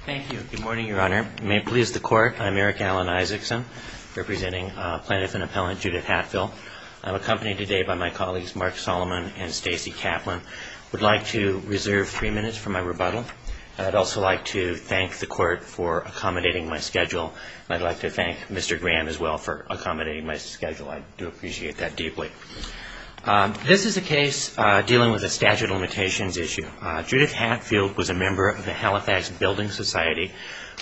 Thank you. Good morning, Your Honor. May it please the Court, I'm Eric Alan Isaacson, representing plaintiff and appellant Judith Hatfield. I'm accompanied today by my colleagues Mark Solomon and Stacey Kaplan. I would like to reserve three minutes for my rebuttal. I'd also like to thank the Court for accommodating my schedule. I'd like to thank Mr. Graham as well for accommodating my schedule. I do appreciate that deeply. This is a case dealing with a statute of limitations issue. Judith Hatfield was a member of the Halifax Building Society,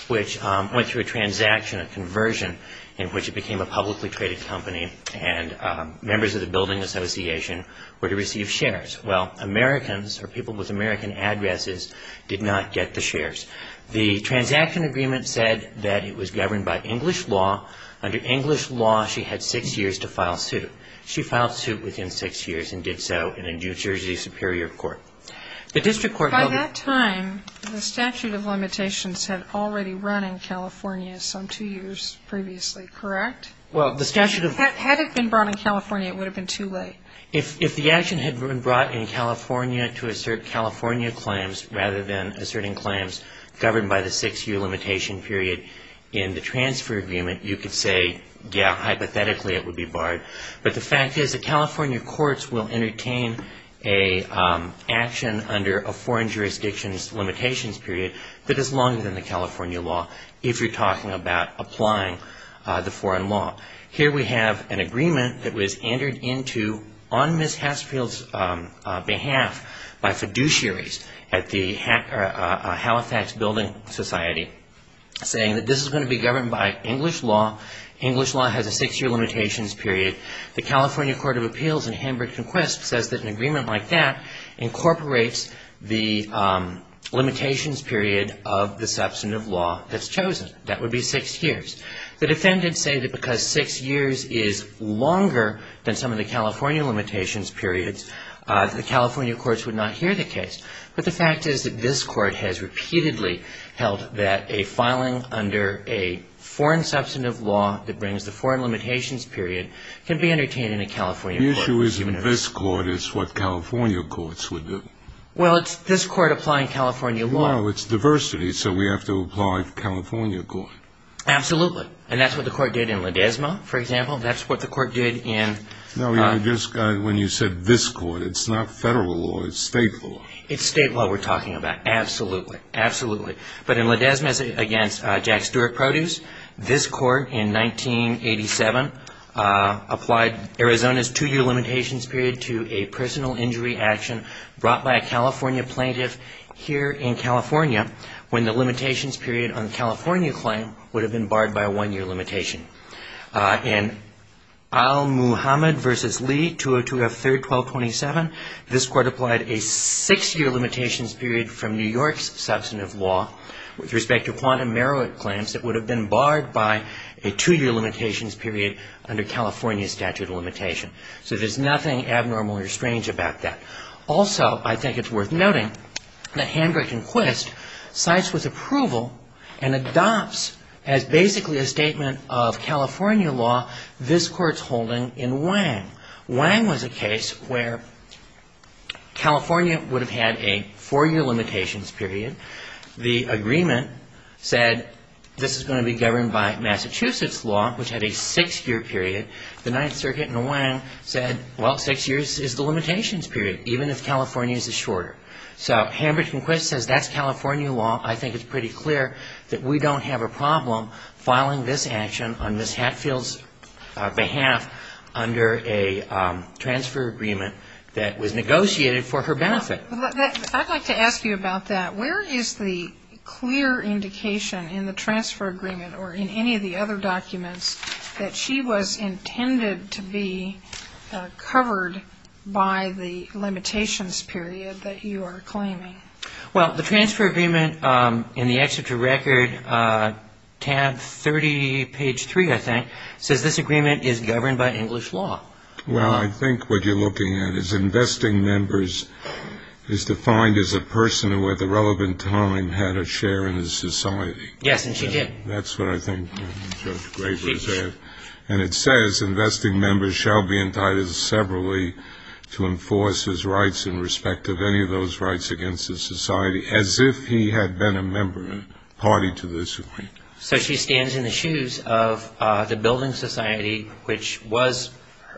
which went through a transaction, a conversion, in which it became a publicly traded company and members of the building association were to receive shares. Well, Americans or people with American addresses did not get the shares. The transaction agreement said that it was governed by English law. Under English law, she had six years to file suit. She filed suit within six years and did so in a New Jersey Superior Court. The district court held that By that time, the statute of limitations had already run in California some two years previously, correct? Well, the statute of Had it been brought in California, it would have been too late. If the action had been brought in California to assert California claims, rather than asserting claims governed by the six-year limitation period in the transfer agreement, you could say, yeah, hypothetically it would be barred. But the fact is that California courts will entertain an action under a foreign jurisdiction's limitations period that is longer than the California law if you're talking about applying the foreign law. Here we have an agreement that was entered into on Ms. Hatfield's behalf by fiduciaries at the Halifax Building Society saying that this is going to be governed by English law. English law has a six-year limitations period. The California Court of Appeals in Hamburg-Conquest says that an agreement like that incorporates the limitations period of the substantive law that's chosen. That would be six years. The defendants say that because six years is longer than some of the California limitations periods, the California courts would not hear the case. But the fact is that this Court has repeatedly held that a filing under a foreign substantive law that brings the foreign limitations period can be entertained in a California court. The issue isn't this court. It's what California courts would do. Well, it's this court applying California law. No, it's diversity. So we have to apply the California court. Absolutely. And that's what the court did in Ledesma, for example. That's what the court did in — No, when you said this court, it's not Federal law. It's State law. It's State law we're talking about. Absolutely. Absolutely. But in Ledesma's against Jack Stewart Produce, this court in 1987 applied Arizona's two-year limitations period to a personal injury action brought by a California plaintiff here in California when the limitations period on the California claim would have been barred by a one-year limitation. In Al-Muhammad v. Lee, 202-F3-1227, this court applied a six-year limitations period from New York's substantive law with respect to quantum merit claims that would have been barred by a two-year limitations period under California statute of limitation. So there's nothing abnormal or strange about that. Also, I think it's worth noting that Hendrick and Quist cites with approval and adopts as basically a statement of California law this court's holding in Wang. Wang was a case where California would have had a four-year limitations period. The agreement said this is going to be governed by Massachusetts law, which had a six-year period. The Ninth Circuit in Wang said, well, six years is the limitations period, even if California's is shorter. So Hendrick and Quist says that's California law. I think it's pretty clear that we don't have a problem filing this action on Ms. Hatfield's behalf under a transfer agreement that was negotiated for her benefit. I'd like to ask you about that. Where is the clear indication in the transfer agreement or in any of the other documents that she was intended to be covered by the limitations period that you are claiming? Well, the transfer agreement in the excerpt of record, tab 30, page 3, I think, says this agreement is governed by English law. Well, I think what you're looking at is investing members is defined as a person who at the relevant time had a share in the society. Yes, and she did. That's what I think Judge Graber is saying. And it says, So she stands in the shoes of the building society, which was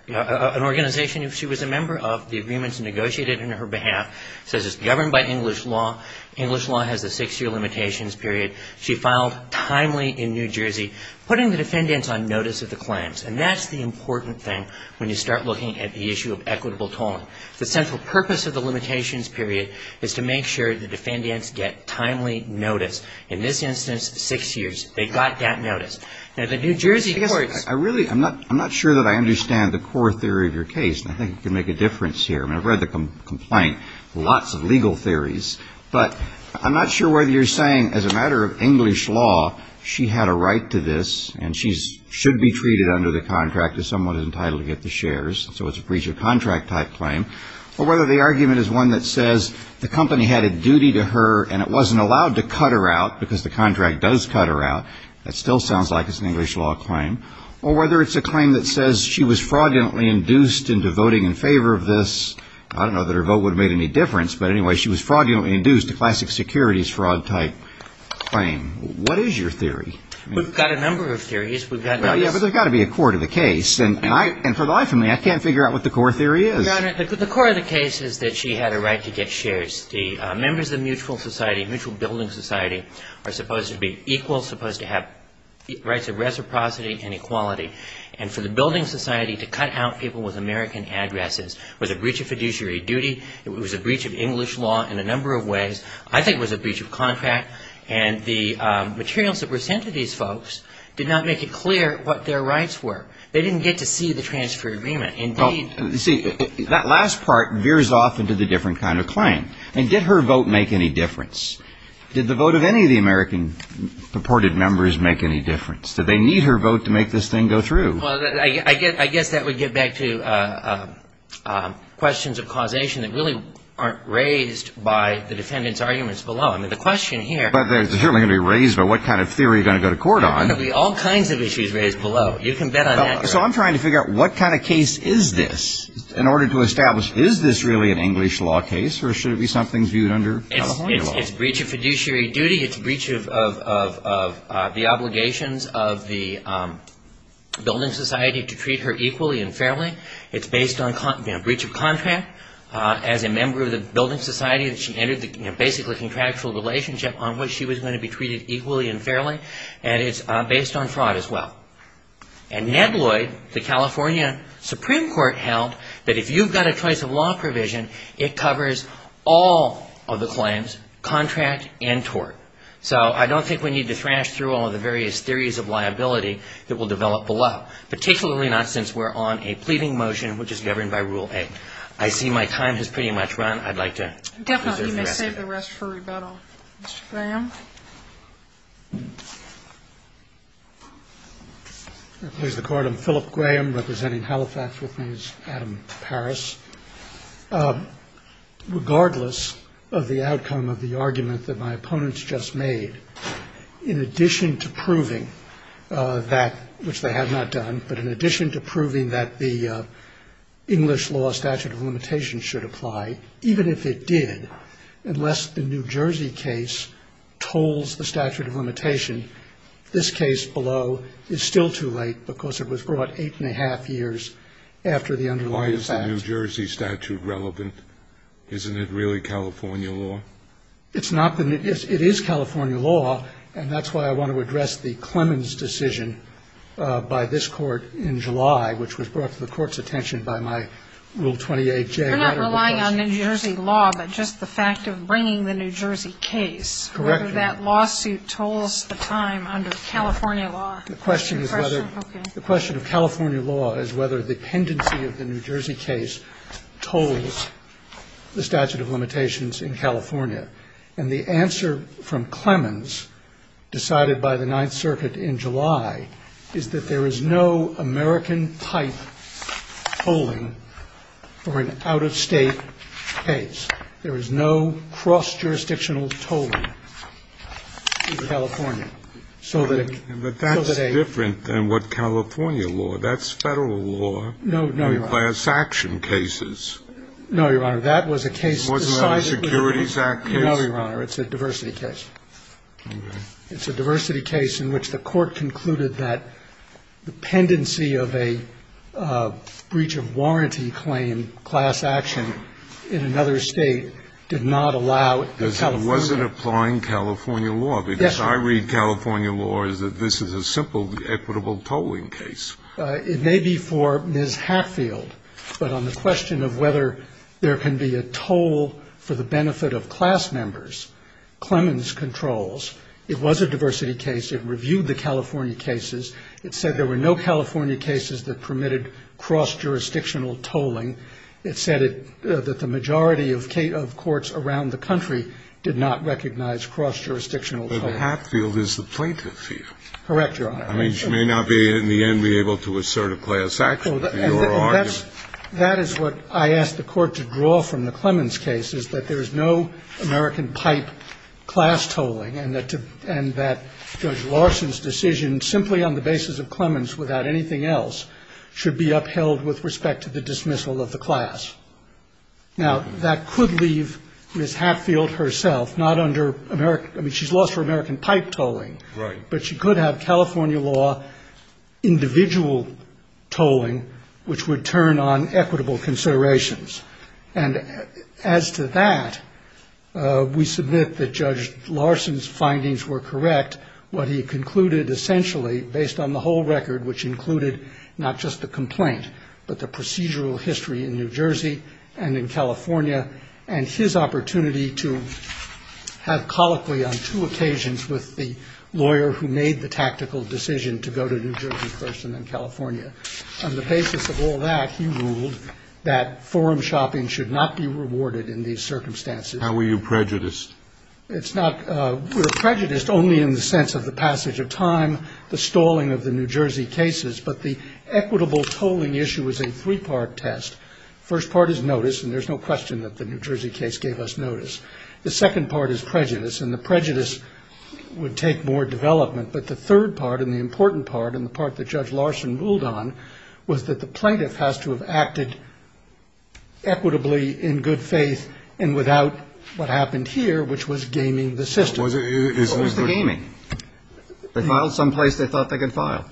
an organization. She was a member of the agreements negotiated on her behalf. It says it's governed by English law. English law has a six-year limitations period. She filed timely in New Jersey, putting the defendants on notice of the claims. And that's the agreement. when you start looking at the issue of equitable tolling. The central purpose of the limitations period is to make sure the defendants get timely notice. In this instance, six years. They got that notice. Now, the New Jersey courts ---- I really, I'm not sure that I understand the core theory of your case. And I think you can make a difference here. I mean, I've read the complaint, lots of legal theories. But I'm not sure whether you're saying as a matter of English law, she had a right to this and she should be treated under the contract as someone entitled to get the shares. So it's a breach of contract type claim. Or whether the argument is one that says the company had a duty to her and it wasn't allowed to cut her out because the contract does cut her out. That still sounds like it's an English law claim. Or whether it's a claim that says she was fraudulently induced into voting in favor of this. I don't know that her vote would have made any difference. But anyway, she was fraudulently induced, a classic securities fraud type claim. What is your theory? We've got a number of theories. Well, yeah, but there's got to be a core to the case. And for the life of me, I can't figure out what the core theory is. The core of the case is that she had a right to get shares. The members of mutual society, mutual building society, are supposed to be equal, supposed to have rights of reciprocity and equality. And for the building society to cut out people with American addresses was a breach of fiduciary duty. It was a breach of English law in a number of ways. I think it was a breach of contract. And the materials that were sent to these folks did not make it clear what their rights were. They didn't get to see the transfer agreement. Indeed. See, that last part veers off into the different kind of claim. And did her vote make any difference? Did the vote of any of the American purported members make any difference? Did they need her vote to make this thing go through? Well, I guess that would get back to questions of causation that really aren't raised by the defendant's arguments below. I mean, the question here But they're certainly going to be raised about what kind of theory you're going to go to court on. There are going to be all kinds of issues raised below. You can bet on that. So I'm trying to figure out what kind of case is this in order to establish, is this really an English law case or should it be something viewed under California law? It's a breach of fiduciary duty. It's a breach of the obligations of the building society to treat her equally and fairly. It's based on breach of contract. As a member of the building society, she entered the basically contractual relationship on which she was going to be treated equally and fairly. And it's based on fraud as well. And Ned Lloyd, the California Supreme Court, held that if you've got a choice of law provision, it covers all of the claims, contract and tort. So I don't think we need to thrash through all of the various theories of liability that will develop below. Particularly not since we're on a pleading motion which is governed by Rule 8. I see my time has pretty much run. I'd like to reserve the rest of it. Definitely, you may save the rest for rebuttal. Mr. Graham? If I may please the Court, I'm Philip Graham representing Halifax. With me is Adam Paris. Regardless of the outcome of the argument that my opponents just made, in addition to proving that, which they have not done, but in addition to proving that the English law statute of limitation should apply, even if it did, unless the New Jersey case tolls the statute of limitation, this case below is still too late because it was brought eight and a half years after the underlying facts. Why is the New Jersey statute relevant? Isn't it really California law? It's not. It is California law. And that's why I want to address the Clemens decision by this Court in July, which was brought to the Court's attention by my Rule 28J. You're not relying on New Jersey law, but just the fact of bringing the New Jersey case. Correct. Whether that lawsuit tolls the time under California law. The question is whether the question of California law is whether the pendency of the New Jersey case tolls the statute of limitations in California. And the answer from Clemens, decided by the Ninth Circuit in July, is that there is no American-type tolling for an out-of-state case. There is no cross-jurisdictional tolling in California. So that a ---- But that's different than what California law. That's Federal law. No, Your Honor. No, Your Honor. That was a case decided ---- No, Your Honor. It's a diversity case. Okay. It's a diversity case in which the Court concluded that the pendency of a breach of warranty claim, class action, in another State did not allow California Because it wasn't applying California law. Yes, Your Honor. Because I read California law as that this is a simple equitable tolling case. It may be for Ms. Hatfield. But on the question of whether there can be a toll for the benefit of class members, Clemens controls. It was a diversity case. It reviewed the California cases. It said there were no California cases that permitted cross-jurisdictional tolling. It said that the majority of courts around the country did not recognize cross-jurisdictional tolling. But Hatfield is the plaintiff here. Correct, Your Honor. I mean, she may not be, in the end, be able to assert a class action. That is what I asked the Court to draw from the Clemens case, is that there is no American pipe class tolling, and that Judge Larson's decision, simply on the basis of Clemens without anything else, should be upheld with respect to the dismissal of the class. Now, that could leave Ms. Hatfield herself not under American ---- I mean, she's lost her American pipe tolling. Right. But she could have California law individual tolling, which would turn on equitable considerations. And as to that, we submit that Judge Larson's findings were correct. What he concluded, essentially, based on the whole record, which included not just the complaint, but the procedural history in New Jersey and in California, and his opportunity to have colloquy on two occasions with the lawyer who made the tactical decision to go to a New Jersey person in California. On the basis of all that, he ruled that forum shopping should not be rewarded in these circumstances. How were you prejudiced? It's not ---- we were prejudiced only in the sense of the passage of time, the stalling of the New Jersey cases. But the equitable tolling issue is a three-part test. First part is notice, and there's no question that the New Jersey case gave us notice. The second part is prejudice, and the prejudice would take more development. But the third part, and the important part, and the part that Judge Larson ruled on, was that the plaintiff has to have acted equitably in good faith and without what happened here, which was gaming the system. What was the gaming? They filed someplace they thought they could file.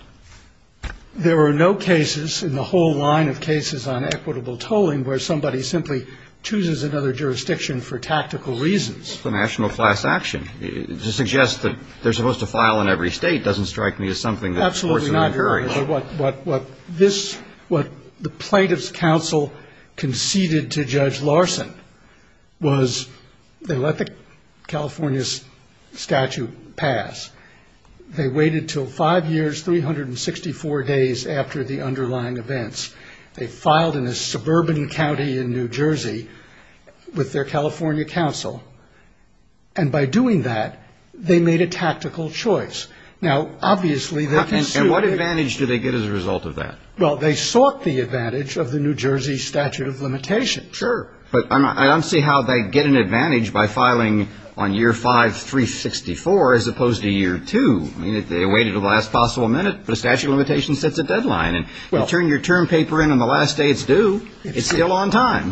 There were no cases in the whole line of cases on equitable tolling where somebody simply chooses another jurisdiction for tactical reasons. It's a national class action. To suggest that they're supposed to file in every state doesn't strike me as something that courts are incurring. Absolutely not, Your Honor. What this ---- what the plaintiff's counsel conceded to Judge Larson was they let the California statute pass. They waited until five years, 364 days after the underlying events. They filed in a suburban county in New Jersey with their California counsel. And by doing that, they made a tactical choice. Now, obviously, they can sue. And what advantage do they get as a result of that? Well, they sought the advantage of the New Jersey statute of limitations. Sure. But I don't see how they get an advantage by filing on year 5, 364, as opposed to year 2. I mean, they waited until the last possible minute, but a statute of limitations sets a deadline. And you turn your term paper in on the last day it's due, it's still on time.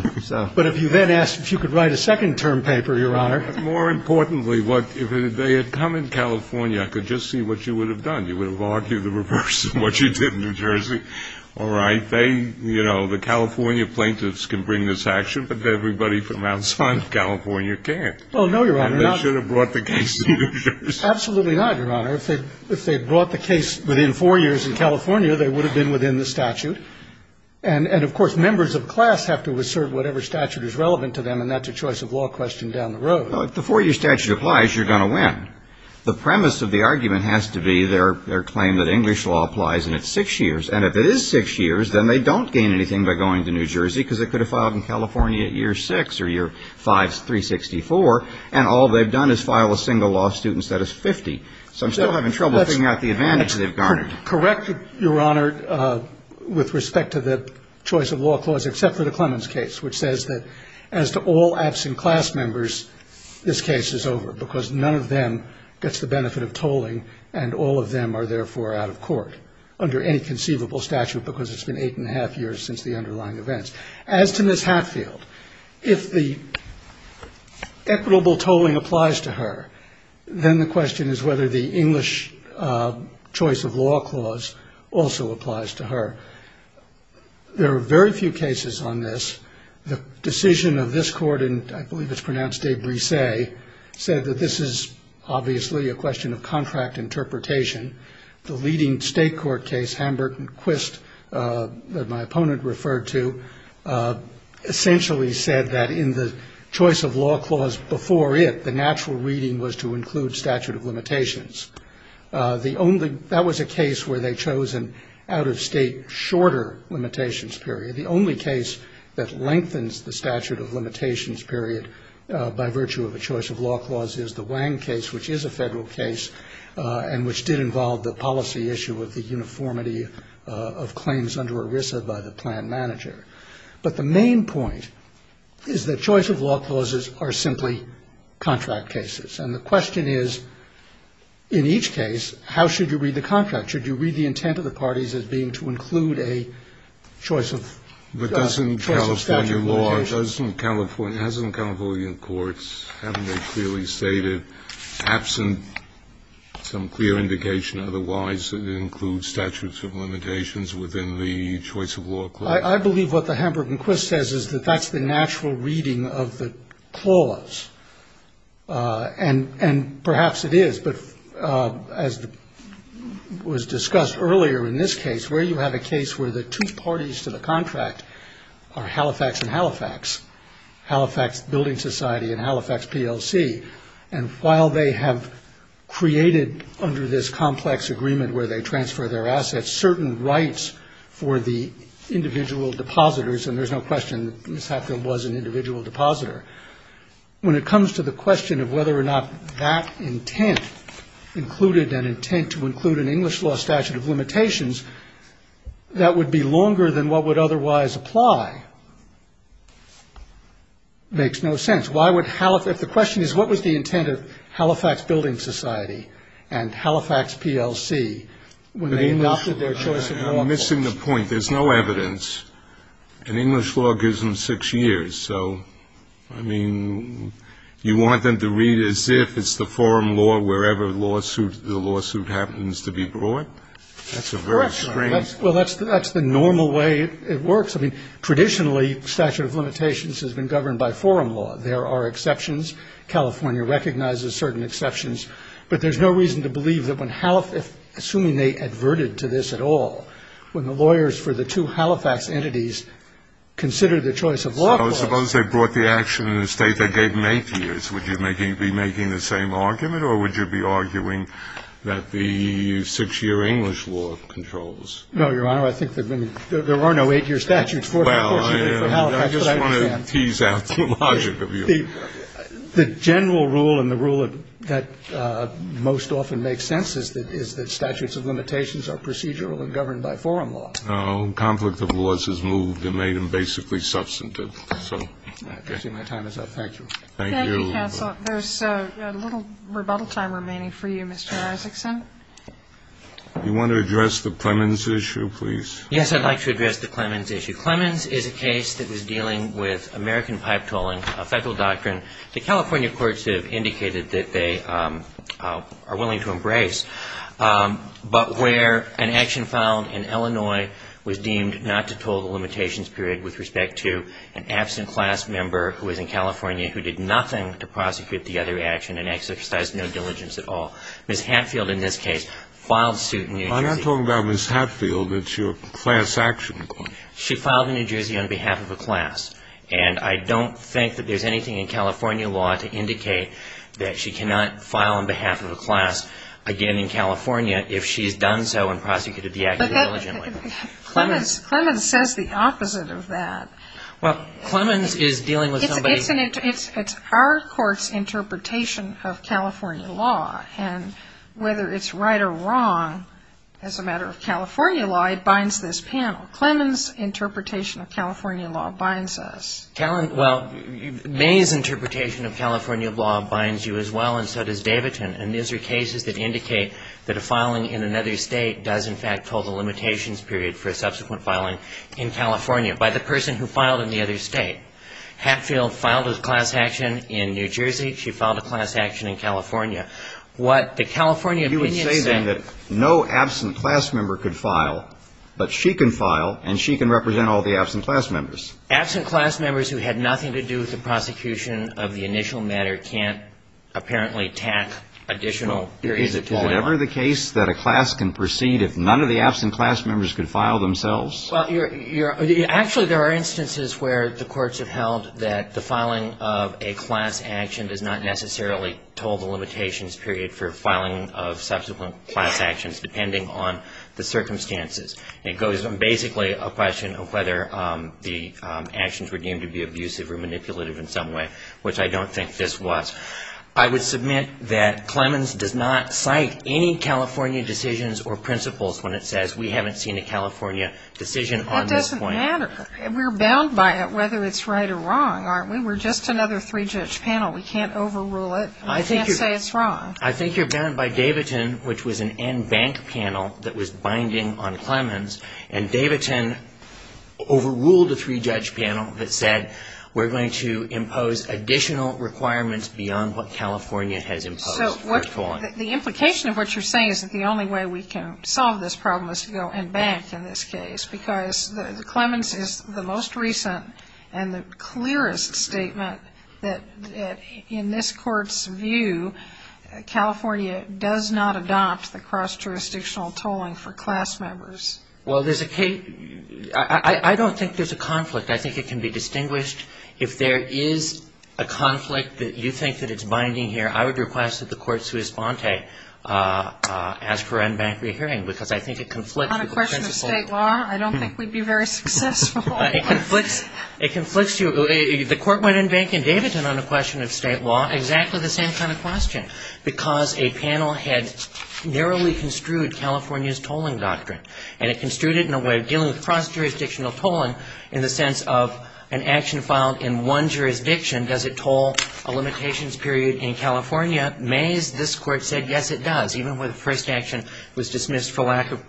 But if you then asked if you could write a second term paper, Your Honor. More importantly, if they had come in California, I could just see what you would have done. You would have argued the reverse of what you did in New Jersey. All right. They, you know, the California plaintiffs can bring this action. But everybody from outside of California can't. Well, no, Your Honor. And they should have brought the case to New Jersey. Absolutely not, Your Honor. If they brought the case within four years in California, they would have been within the statute. And, of course, members of class have to assert whatever statute is relevant to them, and that's a choice of law question down the road. Well, if the four-year statute applies, you're going to win. The premise of the argument has to be their claim that English law applies and it's six years. And if it is six years, then they don't gain anything by going to New Jersey because it could have filed in California at year six or year 364, and all they've done is file a single law suit instead of 50. So I'm still having trouble figuring out the advantage they've garnered. Correct, Your Honor, with respect to the choice of law clause, except for the Clemens case, which says that as to all absent class members, this case is over because none of them gets the benefit of tolling, and all of them are therefore out of court under any conceivable statute because it's been eight and a half years since the underlying events. As to Ms. Hatfield, if the equitable tolling applies to her, then the question is whether the English choice of law clause also applies to her. There are very few cases on this. The decision of this Court, and I believe it's pronounced de brise, said that this is obviously a question of contract interpretation. The leading State court case, Hamburg-Quist, that my opponent referred to, essentially said that in the choice of law clause before it, the natural reading was to include statute of limitations. That was a case where they chose an out-of-State shorter limitations period. The only case that lengthens the statute of limitations period by virtue of a choice of law clause is the Wang case, which is a Federal case and which did involve the policy issue of the uniformity of claims under ERISA by the plan manager. But the main point is that choice of law clauses are simply contract cases. And the question is, in each case, how should you read the contract? Should you read the intent of the parties as being to include a choice of statute of limitations? Kennedy, doesn't California courts, haven't they clearly stated, absent some clear indication otherwise, that it includes statute of limitations within the choice of law clause? I believe what the Hamburg-Quist says is that that's the natural reading of the clause. And perhaps it is. But as was discussed earlier in this case, where you have a case where the two parties to the contract are Halifax and Halifax, Halifax Building Society and Halifax PLC, and while they have created, under this complex agreement where they transfer their assets, certain rights for the individual depositors. And there's no question that Ms. Hatfield was an individual depositor. When it comes to the question of whether or not that intent included an intent to include an English law statute of limitations, that would be longer than what would otherwise apply. It makes no sense. Why would Halifax – if the question is what was the intent of Halifax Building Society and Halifax PLC when they adopted their choice of law clause? I'm missing the point. There's no evidence. An English law gives them six years. So, I mean, you want them to read as if it's the forum law wherever the lawsuit happens to be brought? That's a very strange – Correct. Well, that's the normal way it works. I mean, traditionally, statute of limitations has been governed by forum law. There are exceptions. California recognizes certain exceptions. But there's no reason to believe that when Halifax – assuming they adverted to this at all, when the lawyers for the two Halifax entities considered the choice of law clause – Suppose they brought the action in a state that gave them eight years. Would you be making the same argument? Or would you be arguing that the six-year English law controls? No, Your Honor. I think there are no eight-year statutes for Halifax. Well, I just want to tease out the logic of you. The general rule and the rule that most often makes sense is that statutes of limitations are procedural and governed by forum law. Oh, conflict of laws has moved and made them basically substantive. My time is up. Thank you. Thank you, counsel. There's a little rebuttal time remaining for you, Mr. Isaacson. Do you want to address the Clemens issue, please? Yes, I'd like to address the Clemens issue. Clemens is a case that was dealing with American pipe tolling, a Federal doctrine that California courts have indicated that they are willing to embrace. But where an action found in Illinois was deemed not to toll the limitations period with respect to an absent class member who was in California who did nothing to prosecute the other action and exercised no diligence at all. Ms. Hatfield, in this case, filed suit in New Jersey. I'm not talking about Ms. Hatfield. It's your class action claim. She filed in New Jersey on behalf of a class. And I don't think that there's anything in California law to indicate that she cannot file on behalf of a class again in California if she has done so and prosecuted the action diligently. Clemens says the opposite of that. Well, Clemens is dealing with somebody. It's our court's interpretation of California law. And whether it's right or wrong as a matter of California law, it binds this panel. Clemens' interpretation of California law binds us. Well, May's interpretation of California law binds you as well, and so does Davidson. And these are cases that indicate that a filing in another state does, in fact, have total limitations period for a subsequent filing in California by the person who filed in the other state. Hatfield filed a class action in New Jersey. She filed a class action in California. What the California opinion said ---- You would say, then, that no absent class member could file, but she can file and she can represent all the absent class members. Absent class members who had nothing to do with the prosecution of the initial matter can't apparently tack additional periods of toiling. Is it ever the case that a class can proceed if none of the absent class members could file themselves? Well, you're ---- Actually, there are instances where the courts have held that the filing of a class action does not necessarily total the limitations period for filing of subsequent class actions, depending on the circumstances. It goes from basically a question of whether the actions were deemed to be abusive or manipulative in some way, which I don't think this was. I would submit that Clemens does not cite any California decisions or principles when it says we haven't seen a California decision on this point. That doesn't matter. We're bound by it, whether it's right or wrong, aren't we? We're just another three-judge panel. We can't overrule it. We can't say it's wrong. I think you're bound by Davidson, which was an NBank panel that was binding on Clemens, and Davidson overruled a three-judge panel that said we're going to impose additional requirements beyond what California has imposed for tolling. So the implication of what you're saying is that the only way we can solve this problem is to go NBank in this case, because Clemens is the most recent and the clearest statement that, in this Court's view, California does not adopt the cross-jurisdictional tolling for class members. Well, there's a case ---- I don't think there's a conflict. I think it can be distinguished. If there is a conflict that you think that it's binding here, I would request that the Court sui sponte as per NBank re-hearing, because I think it conflicts with the principle ---- On a question of state law? I don't think we'd be very successful. It conflicts you ---- the Court went NBank and Davidson on a question of state law, exactly the same kind of question, because a panel had narrowly construed California's tolling doctrine, and it construed it in a way of dealing with the limitations of an action filed in one jurisdiction. Does it toll a limitations period in California? Mays, this Court said, yes, it does, even where the first action was dismissed for lack of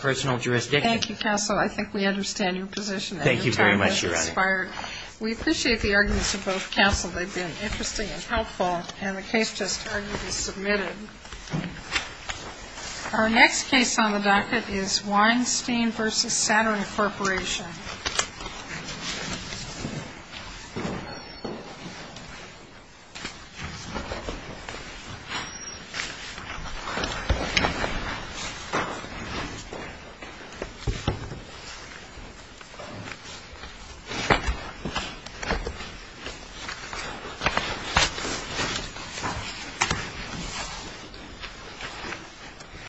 personal jurisdiction. Thank you, counsel. I think we understand your position. Thank you very much, Your Honor. We appreciate the arguments of both counsel. They've been interesting and helpful, and the case just argued is submitted. Our next case on the docket is Weinstein v. Saturn Corporation. Thank you.